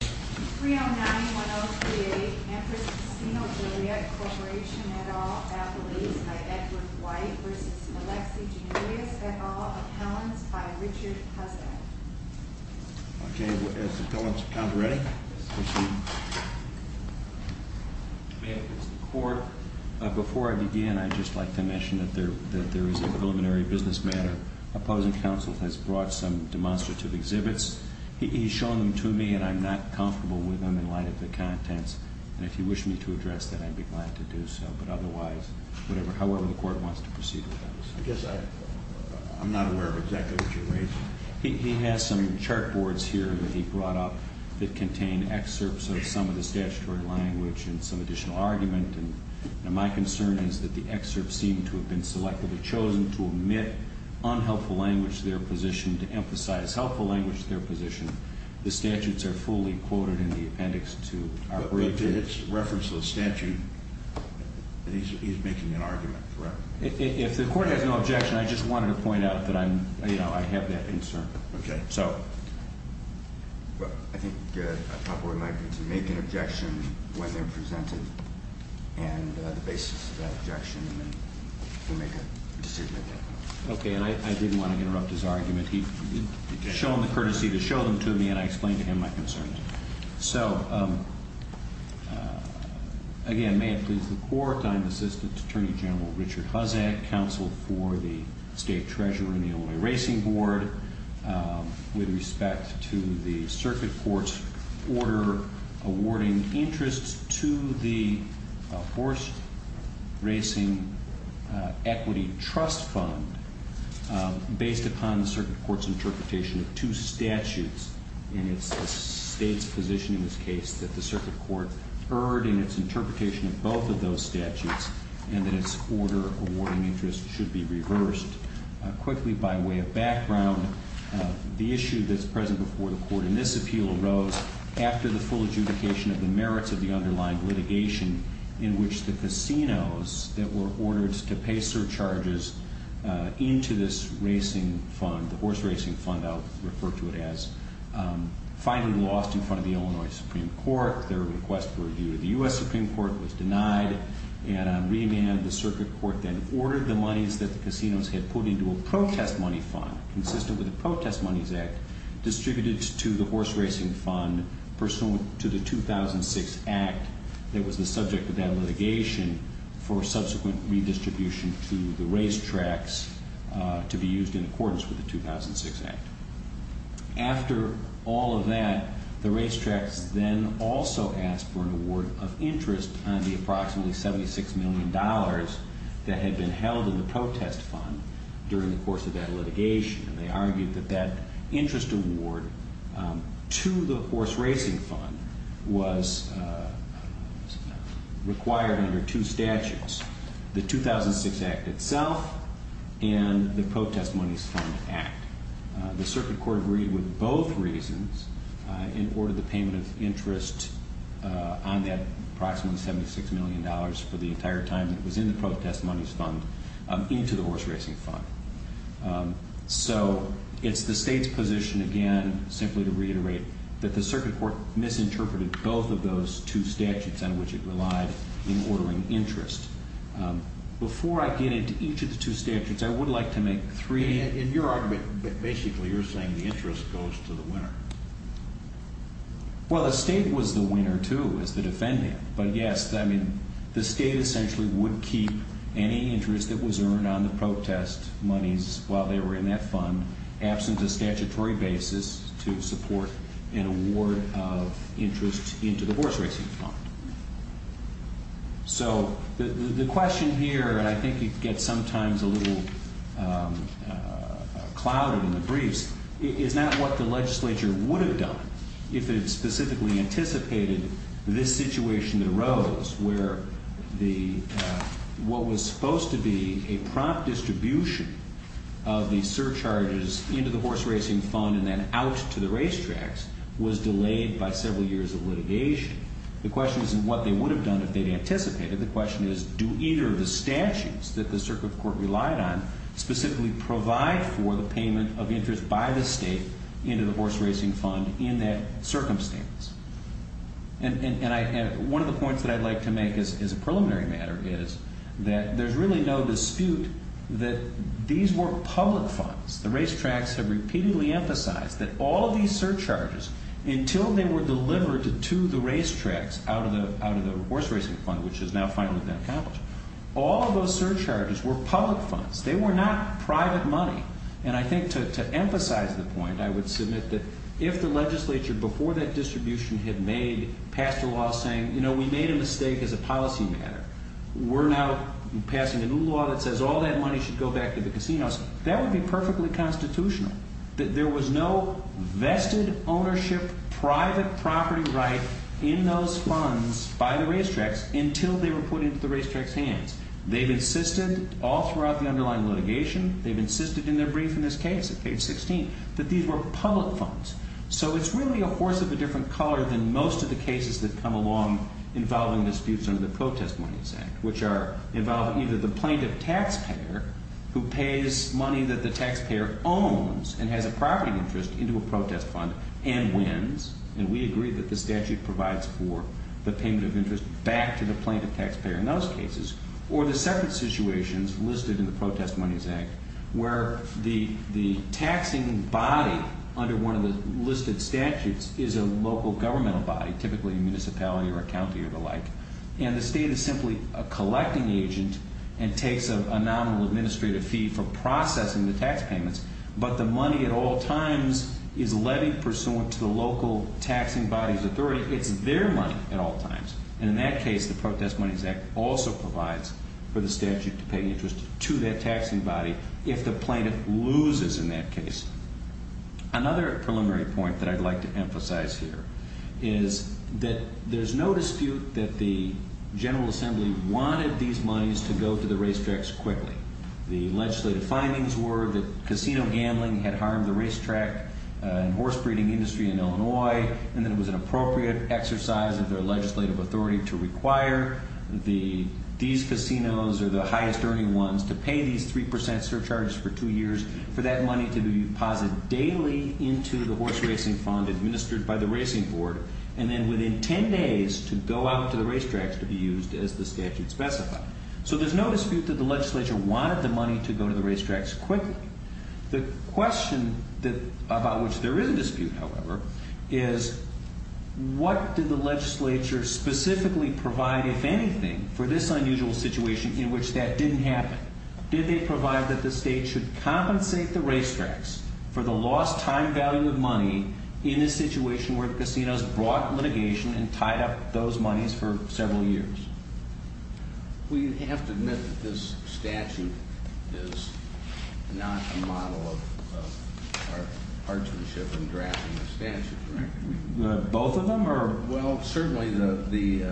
309-1038, Empress Sinaloa Corporation et al. Appellees by Edward White versus Alexi Generius et al. Appellants by Richard Hussack. Okay, is the appellants count ready? Yes, Mr. Chairman. May it please the court, before I begin, I'd just like to mention that there is a preliminary business matter. Opposing counsel has brought some demonstrative exhibits. He's shown them to me and I'm not comfortable with them in light of the contents. And if you wish me to address that, I'd be glad to do so. But otherwise, however the court wants to proceed with those. I guess I'm not aware of exactly what you're raising. He has some chart boards here that he brought up that contain excerpts of some of the statutory language and some additional argument. And my concern is that the excerpts seem to have been selectively chosen to omit unhelpful language to their position, to emphasize helpful language to their position. The statutes are fully quoted in the appendix to our brief. But it's reference to the statute, and he's making an argument, correct? If the court has no objection, I just wanted to point out that I have that concern. Okay, so. Well, I think I'd probably like you to make an objection when they're presented, and the basis of that objection, and then we'll make a decision at that point. Okay, and I didn't want to interrupt his argument. Show him the courtesy to show them to me, and I explain to him my concerns. So, again, may it please the court, I'm Assistant Attorney General Richard Hussack, counsel for the state treasurer in the Illinois Racing Board. With respect to the circuit court's order awarding interest to the Horse Racing Equity Trust Fund, based upon the circuit court's interpretation of two statutes, and it's the state's position in this case, that the circuit court erred in its interpretation of both of those statutes, and that its order awarding interest should be reversed. Quickly, by way of background, the issue that's present before the court in this appeal arose after the full adjudication of the merits of the underlying litigation in which the casinos that were ordered to pay surcharges into this racing fund, the horse racing fund, I'll refer to it as, finally lost in front of the Illinois Supreme Court. Their request for review of the US Supreme Court was denied, and on remand, the circuit court then ordered the monies that the casinos had put into a protest money fund, consistent with the Protest Monies Act, distributed to the horse racing fund, pursuant to the 2006 act that was the subject of that litigation for subsequent redistribution to the racetracks to be used in accordance with the 2006 act. After all of that, the racetracks then also asked for an award of interest on the approximately $76 million that had been held in the protest fund during the course of that litigation. And they argued that that interest award to the horse racing fund was required under two statutes, the 2006 act itself and the protest monies fund act. The circuit court agreed with both reasons and ordered the payment of interest on that approximately $76 million for the entire time it was in the protest monies fund into the horse racing fund. So it's the state's position again, simply to reiterate, that the circuit court misinterpreted both of those two statutes on which it relied in ordering interest. Before I get into each of the two statutes, I would like to make three- In your argument, basically you're saying the interest goes to the winner. Well, the state was the winner too, as the defendant. But yes, I mean, the state essentially would keep any interest that was earned on the protest monies while they were in that fund, absent a statutory basis, to support an award of interest into the horse racing fund. So the question here, and I think it gets sometimes a little clouded in the briefs, is not what the legislature would have done if it specifically anticipated this situation that arose, where what was supposed to be a prompt distribution of the surcharges into the horse racing fund and then out to the racetracks was delayed by several years of litigation. The question isn't what they would have done if they'd anticipated. The question is, do either of the statutes that the circuit court relied on specifically provide for the payment of interest by the state into the horse racing fund in that circumstance? And one of the points that I'd like to make as a preliminary matter is that there's really no dispute that these were public funds. The racetracks have repeatedly emphasized that all of these surcharges, until they were delivered to the racetracks out of the horse racing fund, which is now finally been accomplished. All of those surcharges were public funds. They were not private money. And I think to emphasize the point, I would submit that if the legislature, before that distribution had made, passed a law saying, we made a mistake as a policy matter. We're now passing a new law that says all that money should go back to the casinos. That would be perfectly constitutional, that there was no vested ownership, private property right in those funds by the racetracks until they were put into the racetracks' hands. They've insisted all throughout the underlying litigation. They've insisted in their brief in this case, at page 16, that these were public funds. So it's really a horse of a different color than most of the cases that come along involving disputes under the Protest Monies Act, which are involving either the plaintiff taxpayer who pays money that the taxpayer owns and has a property interest into a protest fund and wins. And we agree that the statute provides for the payment of interest back to the plaintiff taxpayer in those cases. Or the separate situations listed in the Protest Monies Act, where the taxing body under one of the listed statutes is a local governmental body, typically a municipality or a county or the like, and the state is simply a collecting agent and takes a nominal administrative fee for processing the tax payments, but the money at all times is levied pursuant to the local taxing body's authority. It's their money at all times, and in that case the Protest Monies Act also provides for if the plaintiff loses in that case. Another preliminary point that I'd like to emphasize here is that there's no dispute that the General Assembly wanted these monies to go to the racetracks quickly. The legislative findings were that casino gambling had harmed the racetrack and horse breeding industry in Illinois, and that it was an appropriate exercise of their legislative authority to require these casinos or the highest earning ones to pay these 3% surcharges for two years for that money to be deposited daily into the horse racing fund administered by the racing board. And then within ten days to go out to the racetracks to be used as the statute specified. So there's no dispute that the legislature wanted the money to go to the racetracks quickly. My question is, what did the legislature specifically provide, if anything, for this unusual situation in which that didn't happen? Did they provide that the state should compensate the racetracks for the lost time value of money in a situation where casinos brought litigation and tied up those monies for several years? We have to admit that this statute is not a model of our partisanship in drafting the statute, correct? Both of them, or? Well, certainly the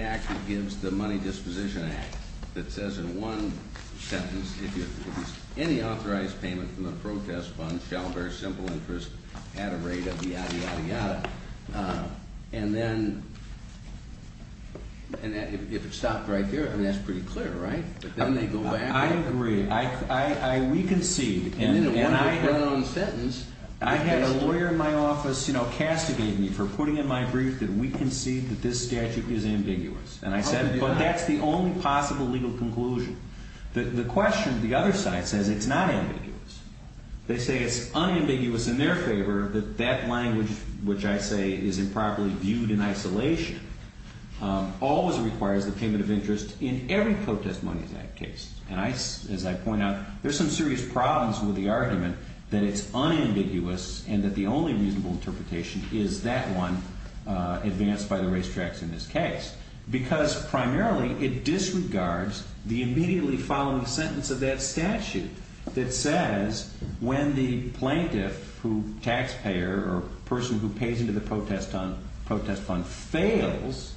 act that gives the money disposition act that says in one sentence, if any authorized payment from the protest fund shall bear simple interest at a rate of yada, yada, yada. And then if it stopped right there, I mean, that's pretty clear, right? But then they go back. I agree. We concede. And then in one sentence. I had a lawyer in my office, you know, castigate me for putting in my brief that we concede that this statute is ambiguous. And I said, but that's the only possible legal conclusion. The question, the other side says it's not ambiguous. They say it's unambiguous in their favor that that language, which I say is improperly viewed in isolation, always requires the payment of interest in every protest money in that case. And as I point out, there's some serious problems with the argument that it's unambiguous and that the only reasonable interpretation is that one advanced by the racetracks in this case, because primarily it disregards the immediately following sentence of that statute that says when the plaintiff, who taxpayer or person who pays into the protest fund fails,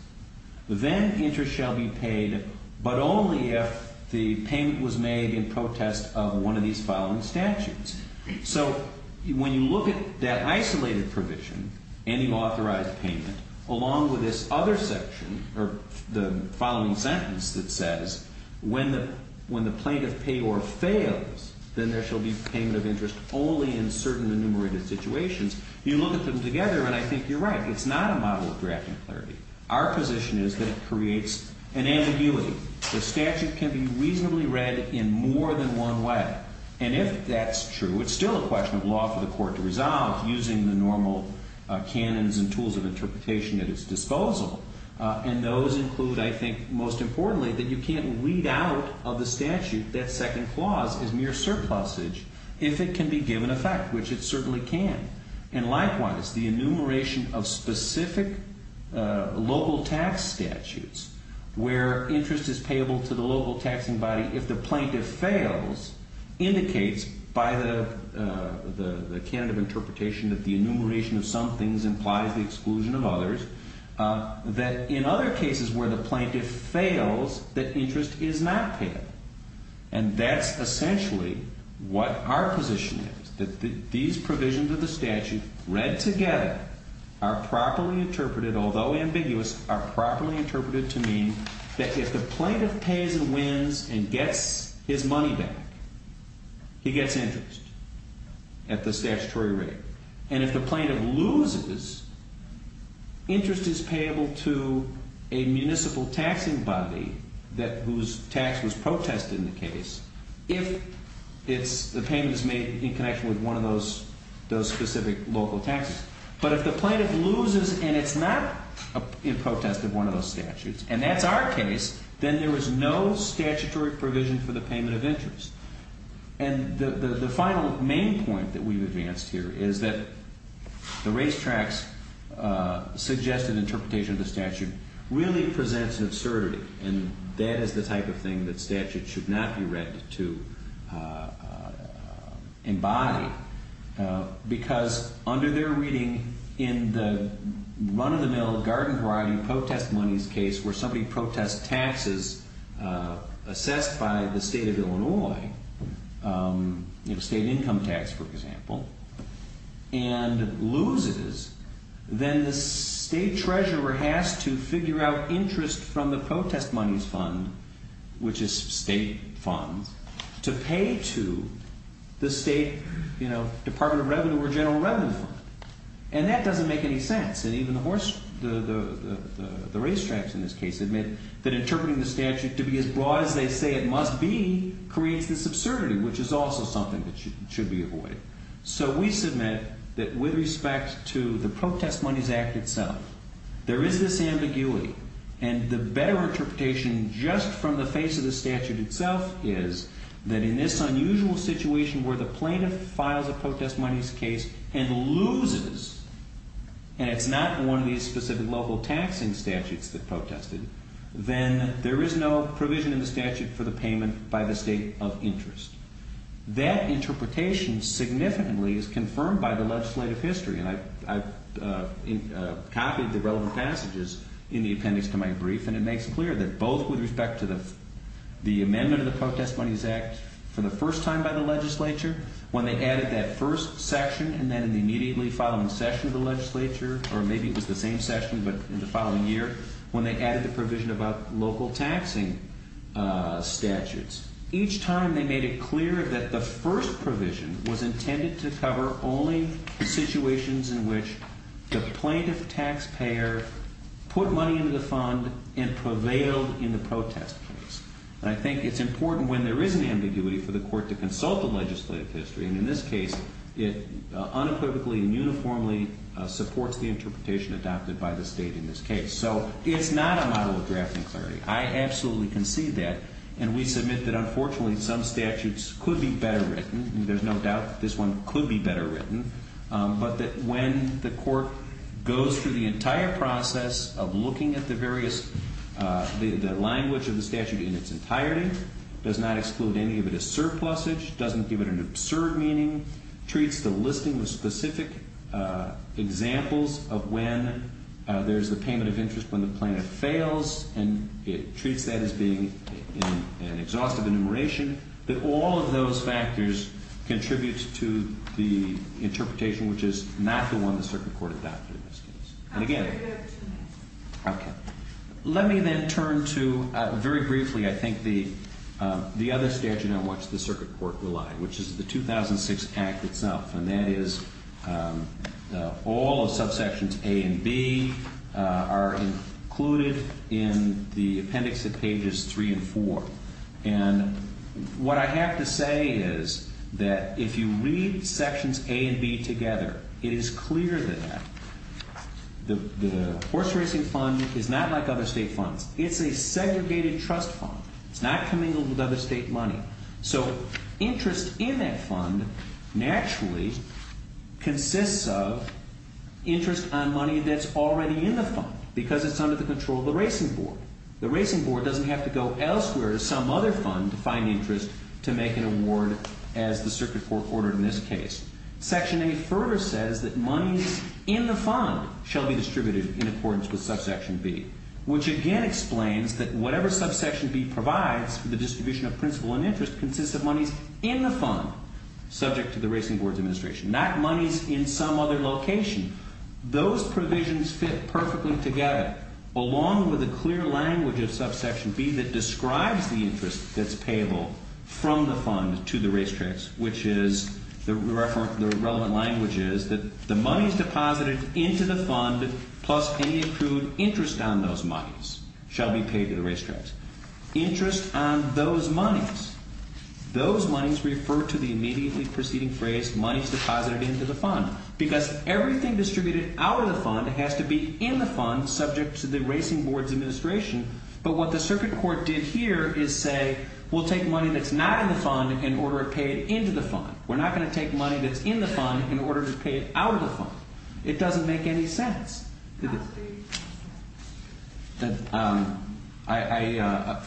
then interest shall be paid, but only if the payment was made in protest of one of these following statutes. So when you look at that isolated provision, any authorized payment, along with this other section or the following sentence that says when the plaintiff paid or fails, then there shall be payment of interest only in certain enumerated situations. You look at them together, and I think you're right. It's not a model of drafting clarity. Our position is that it creates an ambiguity. The statute can be reasonably read in more than one way. And if that's true, it's still a question of law for the court to resolve using the normal canons and tools of interpretation at its disposal. And those include, I think most importantly, that you can't read out of the statute that second clause as mere surplusage if it can be given effect, which it certainly can. And likewise, the enumeration of specific local tax statutes where interest is payable to the local taxing body if the plaintiff fails indicates by the canon of interpretation that the enumeration of some things implies the exclusion of others, that in other cases where the plaintiff fails, that interest is not payable. And that's essentially what our position is, that these provisions of the statute read together are properly interpreted, although ambiguous, are properly interpreted to mean that if the plaintiff pays and wins and gets his money back, he gets interest at the statutory rate. And if the plaintiff loses, interest is payable to a municipal taxing body whose tax was protested in the case if the payment is made in connection with one of those specific local taxes. But if the plaintiff loses and it's not in protest of one of those statutes, and that's our case, then there is no statutory provision for the payment of interest. And the final main point that we've advanced here is that the racetrack's suggested interpretation of the statute really presents an absurdity, and that is the type of thing that statutes should not be read to embody because under their reading in the run-of-the-mill garden variety protest monies case where somebody protests taxes assessed by the state of Illinois, state income tax, for example, and loses, then the state treasurer has to figure out interest from the protest monies fund, which is state funds, to pay to the state department of revenue or general revenue fund. And that doesn't make any sense, and even the racetracks in this case admit that interpreting the statute to be as broad as they say it must be creates this absurdity, which is also something that should be avoided. So we submit that with respect to the protest monies act itself, there is this ambiguity, and the better interpretation just from the face of the statute itself is that in this unusual situation where the plaintiff files a protest monies case and loses, and it's not one of these specific local taxing statutes that protested, then there is no provision in the statute for the payment by the state of interest. That interpretation significantly is confirmed by the legislative history, and I've copied the relevant passages in the appendix to my brief, and it makes it clear that both with respect to the amendment of the protest monies act for the first time by the legislature, when they added that first section and then in the immediately following session of the legislature, or maybe it was the same session but in the following year, when they added the provision about local taxing statutes, each time they made it clear that the first provision was intended to cover only situations in which the plaintiff taxpayer put money into the fund and prevailed in the protest case. And I think it's important when there is an ambiguity for the court to consult the legislative history, and in this case, it unequivocally and uniformly supports the interpretation adopted by the state in this case. So it's not a model of drafting clarity. I absolutely concede that, and we submit that unfortunately some statutes could be better written, and there's no doubt that this one could be better written, but that when the court goes through the entire process of looking at the various, the language of the statute in its entirety, does not exclude any of it as surplusage, doesn't give it an absurd meaning, treats the listing with specific examples of when there's a payment of interest when the plaintiff fails, and it treats that as being an exhaustive enumeration, that all of those factors contribute to the interpretation, which is not the one the circuit court adopted in this case. And again, let me then turn to, very briefly, I think the other statute on which the circuit court relied, which is the 2006 Act itself, and that is all of subsections A and B are included in the appendix at pages 3 and 4. And what I have to say is that if you read sections A and B together, it is clear that the horse racing fund is not like other state funds. It's a segregated trust fund. It's not commingled with other state money. So interest in that fund naturally consists of interest on money that's already in the fund, because it's under the control of the racing board. The racing board doesn't have to go elsewhere to some other fund to find interest to make an award as the circuit court ordered in this case. Section A further says that money in the fund shall be distributed in accordance with subsection B, which again explains that whatever subsection B provides for the distribution of principal and interest consists of monies in the fund subject to the racing board's administration, not monies in some other location. Those provisions fit perfectly together, along with a clear language of subsection B that describes the interest that's payable from the fund to the race tracks, which is the relevant language is that the monies deposited into the fund plus any accrued interest on those monies shall be paid to the race tracks. Interest on those monies. Those monies refer to the immediately preceding phrase monies deposited into the fund because everything distributed out of the fund has to be in the fund subject to the racing board's administration. But what the circuit court did here is say we'll take money that's not in the fund in order to pay it into the fund. We're not going to take money that's in the fund in order to pay it out of the fund. It doesn't make any sense. For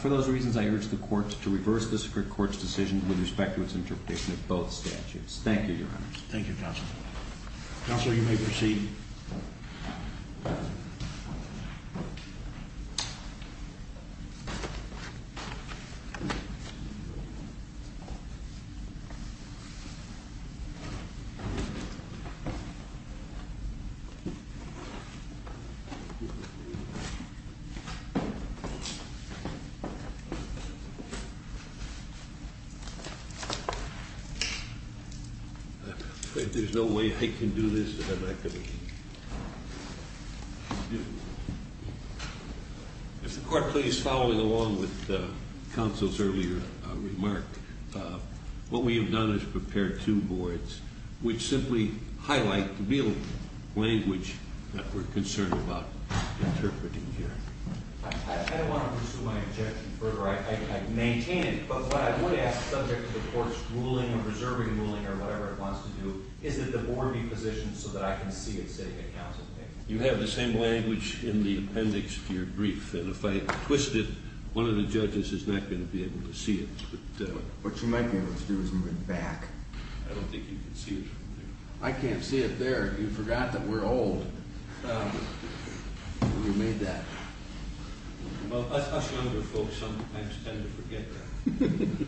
those reasons, I urge the courts to reverse the circuit court's decision with respect to its interpretation of both statutes. Thank you, Your Honor. Thank you, Counselor. Counselor, you may proceed. There's no way I can do this. If the court please, following along with the counsel's earlier remark, what we have done is prepared two boards which simply highlight the real language that we're concerned about interpreting here. I don't want to pursue my objection further. I maintain it, but what I would ask the subject of the court's ruling or preserving ruling or whatever it wants to do is that the board be positioned so that I can see it sitting at counsel table. You have the same language in the appendix to your brief, and if I twist it, one of the judges is not going to be able to see it. What you might be able to do is move it back. I don't think you can see it from there. I can't see it there. You forgot that we're old. You made that. I'm going to be waiting.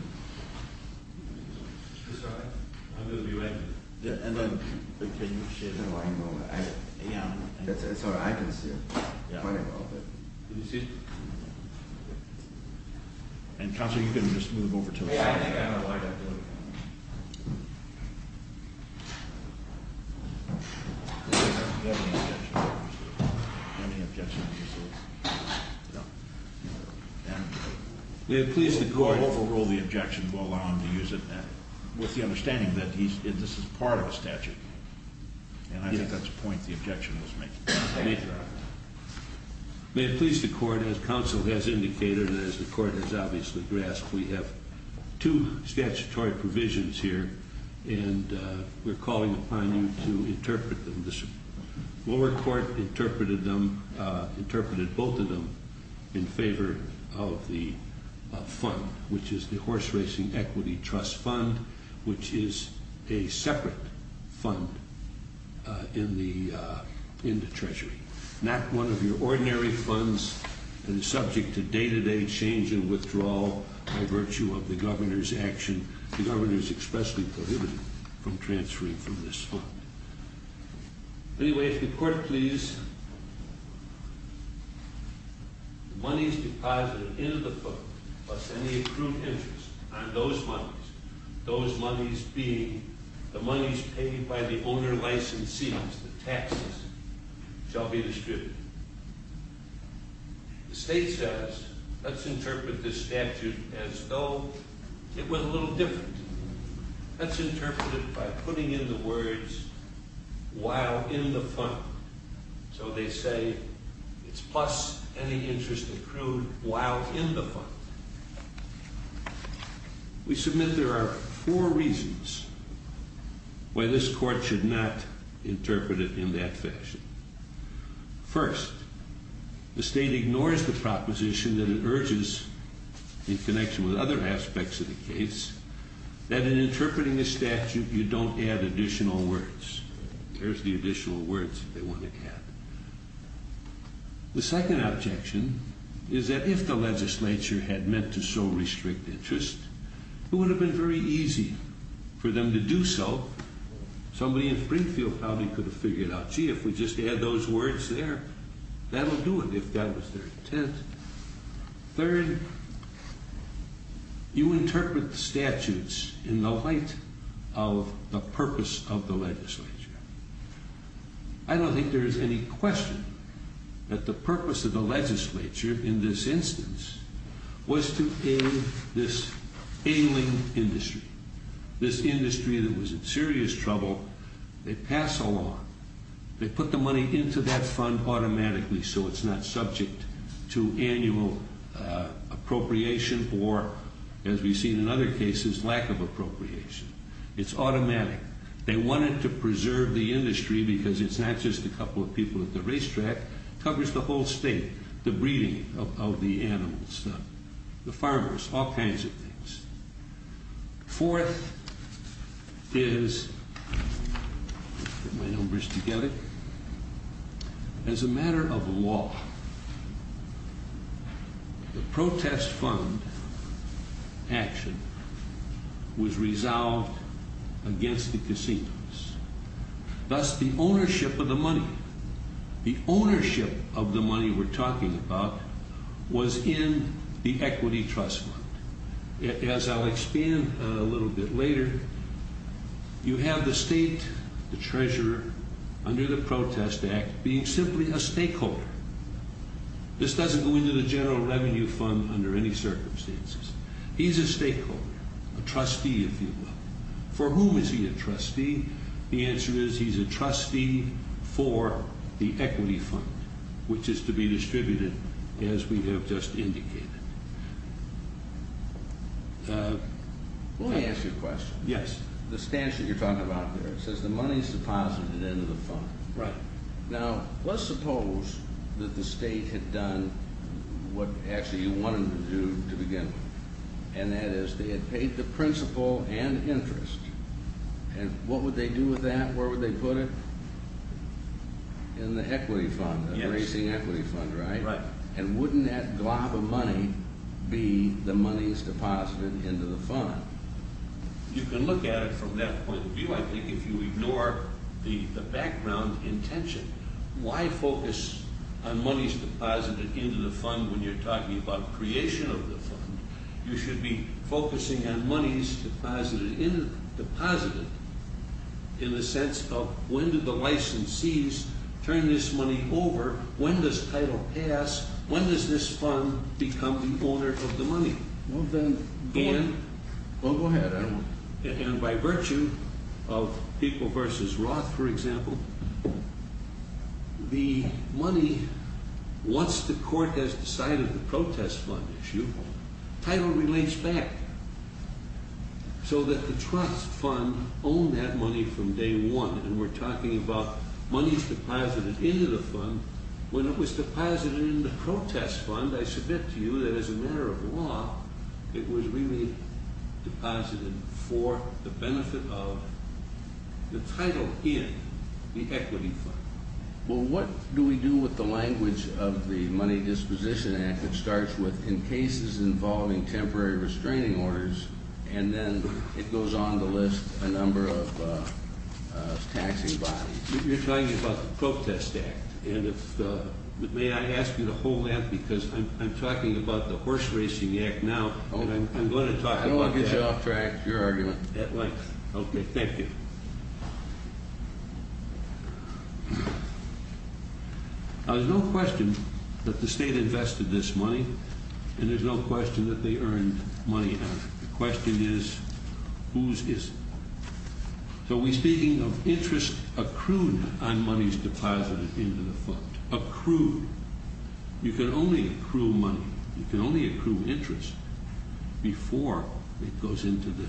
It's all right. I can see it. Can you see it? Counselor, you can just move over to it. I think I don't like it. Do you have any objection? We have pleased the court. We'll overrule the objection. We'll allow him to use it. With the understanding that this is part of a statute, and I think that's the point the objection was making. May it please the court, as counsel has indicated and as the court has obviously grasped, we have two statutory provisions here, and we're calling upon you to interpret them. The lower court interpreted both of them in favor of the fund, which is the Horse Racing Equity Trust Fund, which is a separate fund in the Treasury, not one of your ordinary funds that is subject to day-to-day change and withdrawal by virtue of the governor's action. The governor is expressly prohibited from transferring from this fund. Anyway, if the court please. The monies deposited into the fund, plus any accrued interest on those monies, those monies being the monies paid by the owner licensees, the taxes, shall be distributed. The state says, let's interpret this statute as though it were a little different. Let's interpret it by putting in the words, while in the fund. So they say, it's plus any interest accrued while in the fund. We submit there are four reasons why this court should not interpret it in that fashion. First, the state that in interpreting a statute, you don't add additional words. The second objection is that if the legislature had meant to so restrict interest, it would have been very easy for them to do so. Somebody in Springfield probably could have figured out, gee, if we just add those words there, that will do it. Third, you interpret the statutes in the light of the purpose of the legislature. I don't think there is any question that the purpose of the legislature in this instance was to aid this ailing industry. This industry that was in serious trouble. They pass a law. They put the money into that fund automatically so it's not subject to annual appropriation or, as we've seen in other cases, lack of appropriation. It's automatic. They wanted to preserve the industry because it's not just a couple of people at the racetrack. It covers the whole state, the breeding of the animals, the farmers, all kinds of things. Fourth is as a matter of law the protest fund action was resolved against the casinos. Thus, the ownership of the money. The ownership of the money we're talking about was in the equity trust fund. As I'll expand a little bit later you have the state treasurer under the protest act being simply a stakeholder. This doesn't go into the general revenue fund under any circumstances. He's a stakeholder. A trustee, if you will. For whom is he a trustee? The answer is he's a trustee for the equity fund, which is to be distributed as we have just indicated. Let me ask you a question. Yes. The stance that you're talking about there. It says the money is deposited into the fund. Right. Now, let's suppose that the state had done what actually you wanted them to do to begin with. That is, they had paid the principal and interest. What would they do with that? Where would they put it? In the equity fund. The racing equity fund, right? Right. And wouldn't that glob of money be the money that's deposited into the fund? You can look at it from that point of view. I think if you ignore the background intention, why focus on money's deposited into the fund when you're talking about creation of the fund? You should be focusing on money's deposited in the sense of when did the licensees turn this money over? When does title pass? When does this fund become the owner of the money? Well, go ahead. And by virtue of people versus Roth, for example, the money once the court has decided the protest fund issue, title relates back so that the trust fund owned that money from day one. And we're talking about money's deposited into the fund. When it was deposited in the protest fund, I submit to you that as a matter of law, it was really deposited for the benefit of the title in the equity fund. Well, what do we do with the language of the Money Disposition Act that starts with, in cases involving temporary restraining orders and then it goes on to list a number of taxing bodies? You're talking about the Protest Act. May I ask you to hold that because I'm talking about the Horse Racing Act now. I don't want to get you off track with your argument. Okay, thank you. There's no question that the state invested this money, and there's no question that they earned money out of it. The question is, whose is it? So we're speaking of interest accrued on money's deposited into the fund. Accrued. You can only accrue money. You can only accrue interest before it goes into the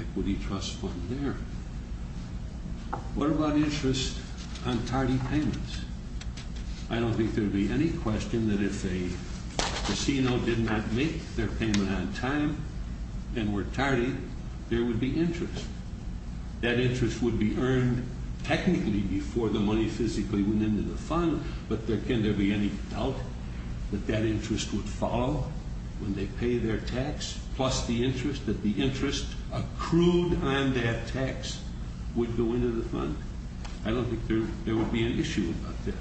equity trust fund there. What about interest on tardy payments? I don't think there would be any question that if a casino did not make their payment on time and were tardy, there would be interest. That interest would be earned technically before the money physically went into the fund, but can there be any doubt that that interest would follow when they pay their tax, plus the interest, that the interest accrued on that tax would go into the fund? I don't think there would be an issue about that.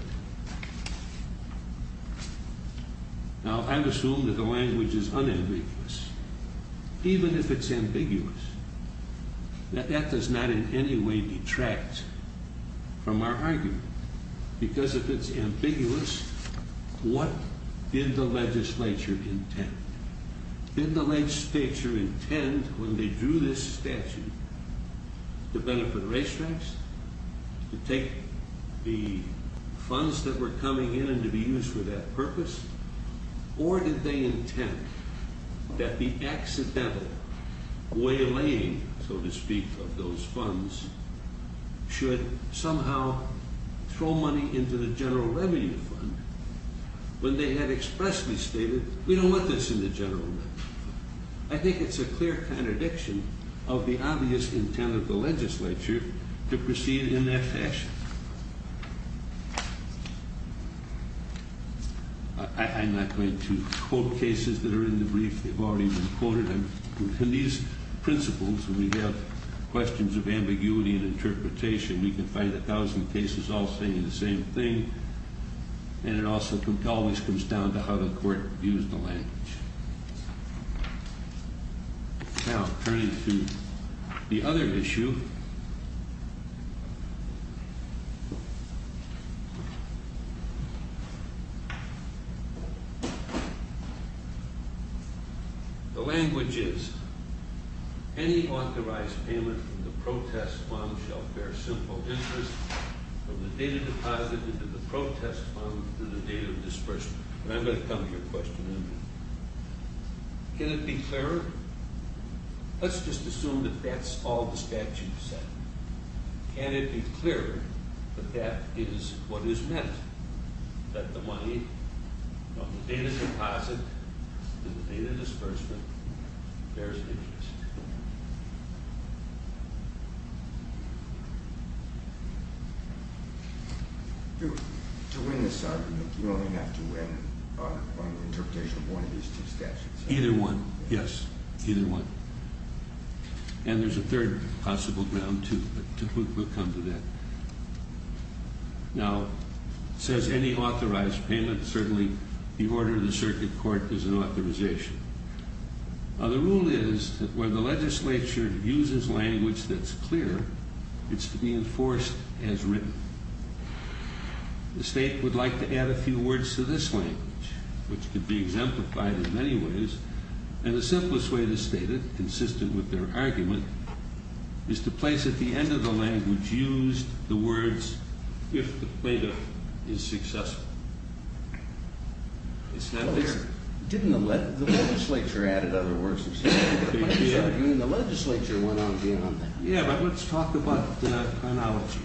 Now I would assume that the language is unambiguous. Even if it's ambiguous, that does not in any way detract from our argument. Because if it's ambiguous, what did the legislature intend? Did the legislature intend, when they drew this statute, to benefit racetracks? To take the funds that were coming in and to be used for that purpose? Or did they intend that the accidental waylaying, so to speak, of those funds should somehow throw money into the general revenue fund when they had expressly stated, we don't want this in the general revenue fund? I think it's a clear contradiction of the obvious intent of the legislature to proceed in that fashion. I'm not going to ask questions of ambiguity and interpretation. We can find a thousand cases all saying the same thing. And it also always comes down to how the court views the language. Now, turning to the other issue. The language is, any authorized payment from the protest fund shall bear simple interest from the date of deposit into the protest fund to the date of disbursement. And I'm going to come to your question in a minute. Can it be clearer? Let's just assume that that's all the statute said. Can it be clearer that that is what is meant? That the money from the date of deposit to the date of disbursement bears an interest? To win this argument, you only have to win on interpretation of one of these two statutes. Either one. Yes. Either one. And there's a third possible ground, too. But we'll come to that. Now, it says any authorized payment. Certainly, the order of the circuit court is an authorization. The rule is that when the legislature uses language that's clear, it's to be enforced as written. The state would like to add a few words to this language, which could be exemplified in many ways. And the simplest way to state it, consistent with their argument, is to place at the end of the language used the words, if the plaintiff is successful. The legislature added other words. The legislature went on beyond that. Yeah, but let's talk about the chronology.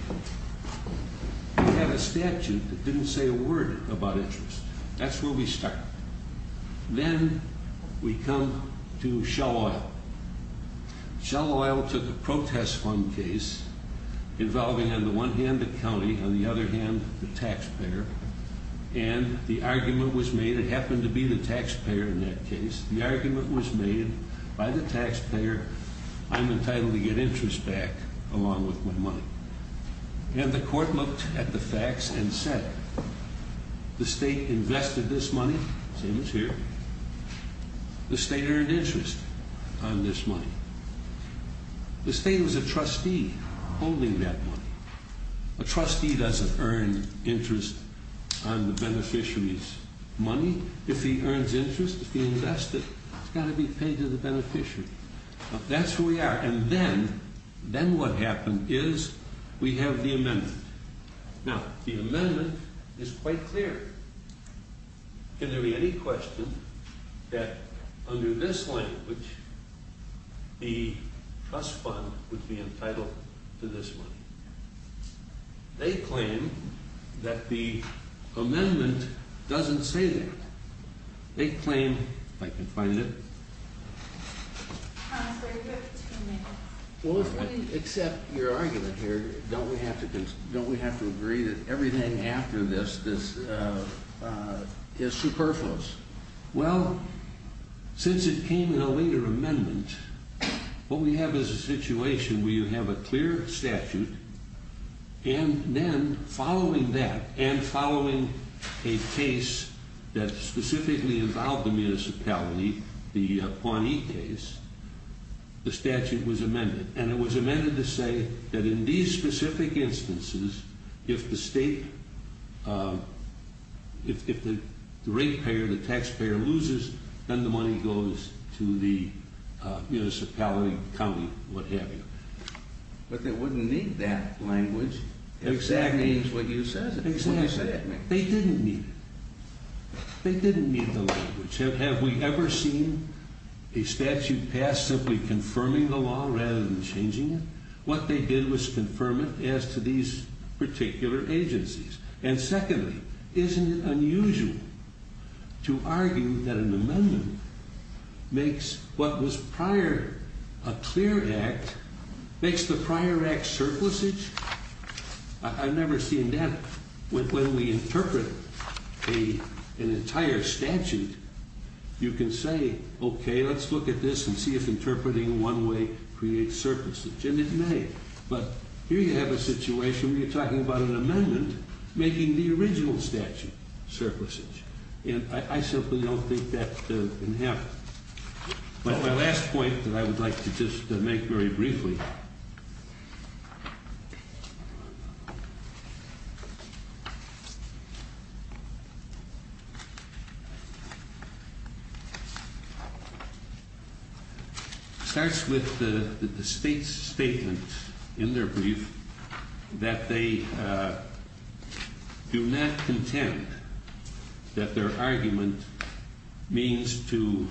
We have a statute that didn't say a word about interest. That's where we start. Then we come to Shell Oil. Shell Oil took a protest fund case involving, on the one hand, the county, on the other hand, the taxpayer. And the argument was made, it happened to be the taxpayer in that case, the argument was made by the taxpayer, I'm entitled to get interest back along with my money. And the court looked at the facts and said, the state invested this money, same as here, the state earned interest on this money. The state was a trustee holding that money. A trustee doesn't earn interest on the beneficiary's money. If he earns interest, if he invests it, it's got to be paid to the beneficiary. That's who we are. And then what happened is we have the amendment. Now, the amendment is quite clear. Can there be any question that under this language, the trust fund would be entitled to this money? They claim that the amendment doesn't say that. They claim, if I can find it. Well, if we accept your argument here, don't we have to agree that everything after this, this is superfluous? Well, since it came in a later amendment, what we have is a situation where you have a clear statute, and then following that, and following a case that specifically involved the municipality, the Pawnee case, the statute was amended. And it was amended to say that in these specific instances, if the state, if the ratepayer, the taxpayer loses, then the money goes to the municipality, county, what have you. But they wouldn't need that language, if that means what you said. They didn't need it. They didn't need the language. Have we ever seen a statute passed simply confirming the law rather than changing it? What they did was confirm it as to these particular agencies. And secondly, isn't it unusual to argue that an amendment makes what was prior a clear act, makes the prior act surplusage? I've never seen that. When we interpret an entire statute, you can say, okay, let's look at this and see if interpreting one way creates surplusage. And it may. But here you have a situation where you're talking about an amendment making the original statute surplusage. And I simply don't think that can happen. My last point that I would like to just make very briefly starts with the state's statement in their brief that they do not contend that their argument means to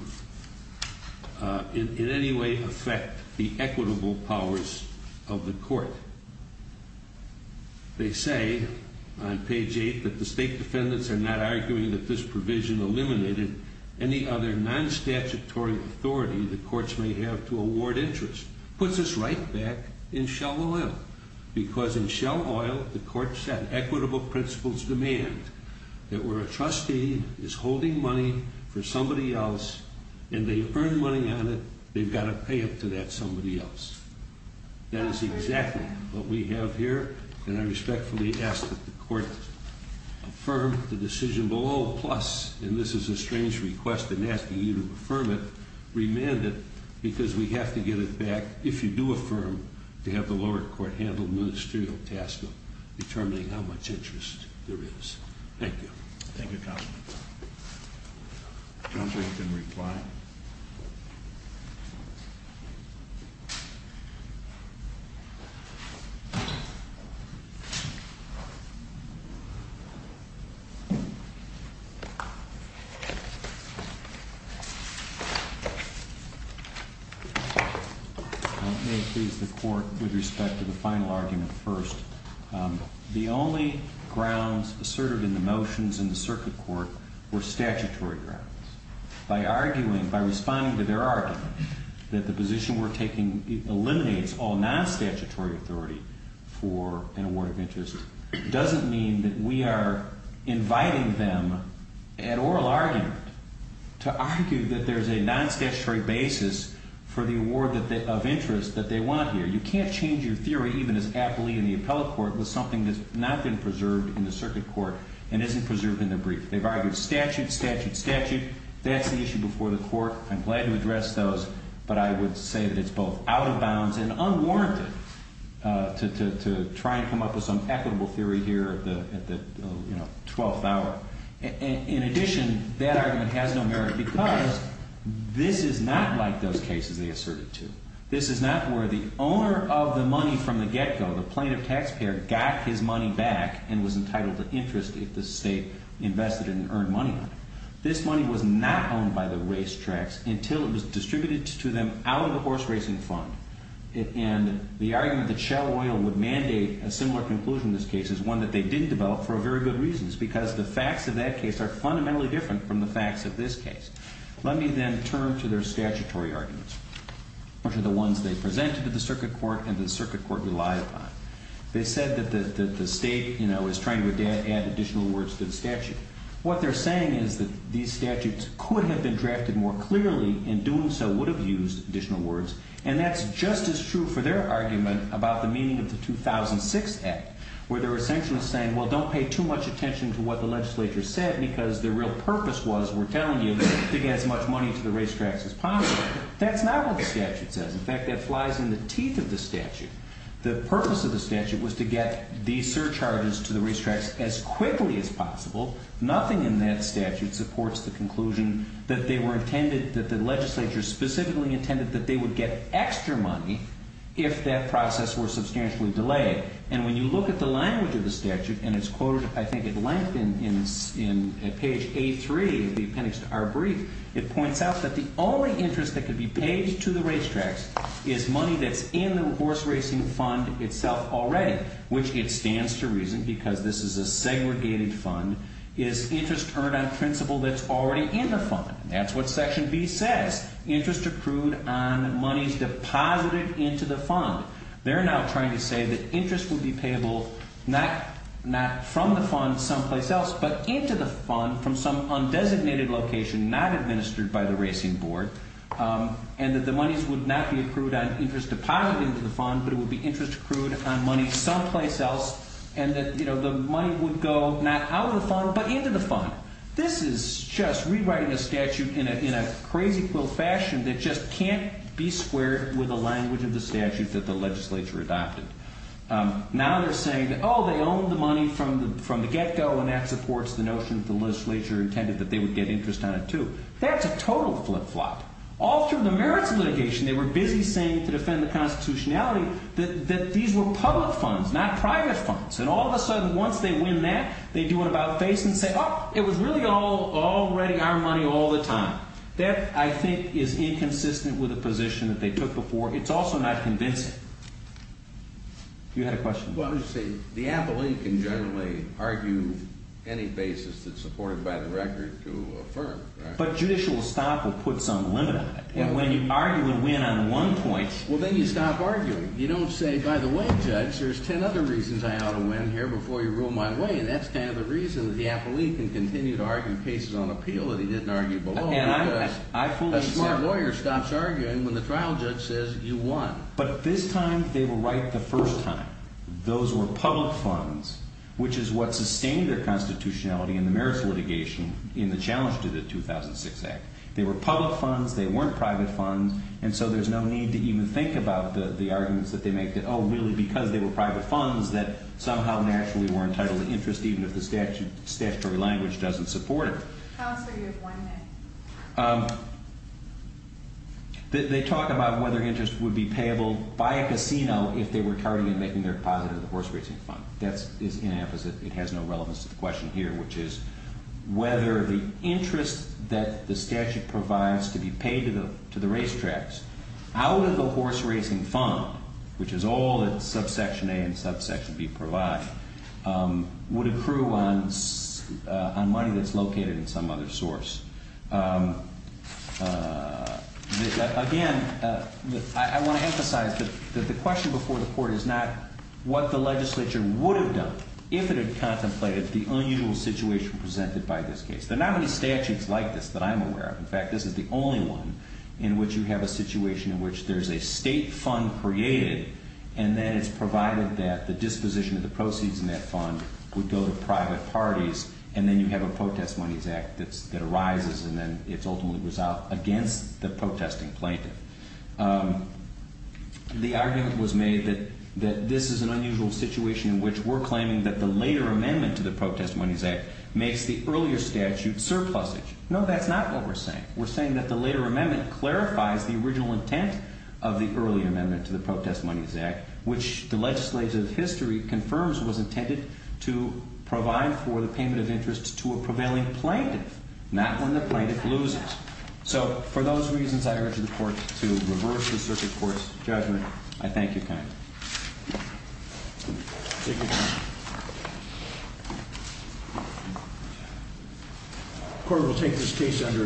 in any way affect the equitable powers of the court. They say on page 8 that the state defendants are not arguing that this provision eliminated any other non-statutory authority the courts may have to award interest. Puts us right back in shell oil. Because in shell oil, the court set equitable principles demand that where a trustee is holding money for somebody else and they earn money on it, they've got to pay it to that somebody else. That is exactly what we have here. And I respectfully ask that the court affirm the decision below, plus and this is a strange request in asking you to affirm it, remand it, because we have to get it back if you do affirm to have the lower court handle the ministerial task of determining how much interest there is. Thank you. Thank you, Counselor. Counselor, you can reply. May it please the court with respect to the final argument first. The only grounds asserted in the motions in the circuit court were statutory grounds. By arguing, by responding to their argument that the position we're taking eliminates all non-statutory authority for an award of interest doesn't mean that we are inviting them at oral argument to argue that there's a non-statutory basis for the award of interest that they want here. You can't change your theory even as aptly in the appellate court with something that's not been preserved in the circuit court and isn't preserved in the brief. They've argued statute, statute, statute. That's the issue before the court. I'm glad to address those, but I would say that it's both out of bounds and unwarranted to try and come up with some equitable theory here at the 12th hour. In addition, that argument has no merit because this is not like those cases they asserted to. This is not where the owner of the money from the get-go, the plaintiff taxpayer, got his money back and was entitled to interest if the state invested it and earned money on it. This money was not owned by the racetracks until it was distributed to them out of the horse racing fund. And the argument that Shell Oil would mandate a similar conclusion to this case is one that they didn't develop for very good reasons because the facts of that case are fundamentally different from the facts of this case. Let me then turn to their statutory arguments, which are the ones they presented to the circuit court and the circuit court relied upon. They said that the state is trying to add additional words to the statute. What they're saying is that these statutes could have been drafted more clearly and doing so would have used additional words. And that's just as true for their argument about the meaning of the 2006 Act, where they were essentially saying, well, don't pay too much attention to what the legislature said because their real purpose was, we're telling you, to get as much money to the racetracks as possible. That's not what the statute says. In fact, that nothing in that statute supports the conclusion that they were intended, that the legislature specifically intended that they would get extra money if that process were substantially delayed. And when you look at the language of the statute, and it's quoted, I think, at length in page A3 of the appendix to our brief, it points out that the only interest that could be paid to the racetracks is money that's in the horse racing fund itself already, which it stands to reason, because this is a segregated fund, is interest earned on principal that's already in the fund. That's what section B says, interest accrued on monies deposited into the fund. They're now trying to say that interest would be payable not from the fund someplace else, but into the fund from some undesignated location not administered by the racing board, and that the monies would not be accrued on interest deposited into the fund, but it would be interest accrued on money someplace else, and that the money would go not out of the fund, but into the fund. This is just rewriting a statute in a crazy-quill fashion that just can't be squared with the language of the statute that the legislature adopted. Now they're saying, oh, they would get interest on it, too. That's a total flip-flop. All through the merits litigation, they were busy saying to defend the constitutionality that these were public funds, not private funds, and all of a sudden, once they win that, they do an about-face and say, oh, it was really already our money all the time. That, I think, is inconsistent with the position that they took before. It's also not convincing. You had a question? Well, I was going to say, the appellee can generally argue any basis that's supported by the record to affirm, right? But judicial stop will put some limit on it. And when you argue a win on one point... Well, then you stop arguing. You don't say, by the way, Judge, there's ten other reasons I ought to win here before you rule my way, and that's kind of the reason that the appellee can continue to argue cases on appeal that he didn't argue below. And I fully accept... Those were public funds, which is what sustained their constitutionality in the merits litigation in the challenge to the 2006 Act. They were public funds. They weren't private funds. And so there's no need to even think about the arguments that they make that, oh, really, because they were private funds that somehow naturally were entitled to interest, even if the statutory language doesn't support it. How else are you going to win then? They talk about whether interest would be payable by a casino if they were tardy in making their deposit of the horse racing fund. That is inapposite. It has no relevance to the question here, which is whether the interest that the statute provides to be paid to the racetracks out of the horse racing fund, which is all that subsection A and subsection B provide, would accrue on money that's located in some other source. Again, I want to emphasize that the question before the court is not what the legislature would have done if it had contemplated the unusual situation presented by this case. There are not many statutes like this that I'm aware of. In fact, this is the only one in which you have a situation in which there's a state fund created, and then it's provided that the disposition of the proceeds in that fund would go to private parties. And then you have a Protest Monies Act that arises, and then it's ultimately resolved against the protesting plaintiff. The argument was made that this is an unusual situation in which we're claiming that the later amendment to the Protest Monies Act makes the earlier statute surplusage. No, that's not what we're saying. We're saying that the later amendment clarifies the original intent of the earlier amendment to the Protest Monies Act, which the legislative history confirms was intended to provide for the payment of interest to a prevailing plaintiff, not when the plaintiff loses. So, for those reasons, I urge the court to reverse the circuit court's judgment. I thank you kindly. Thank you, Your Honor. The court will take this case under adjournment.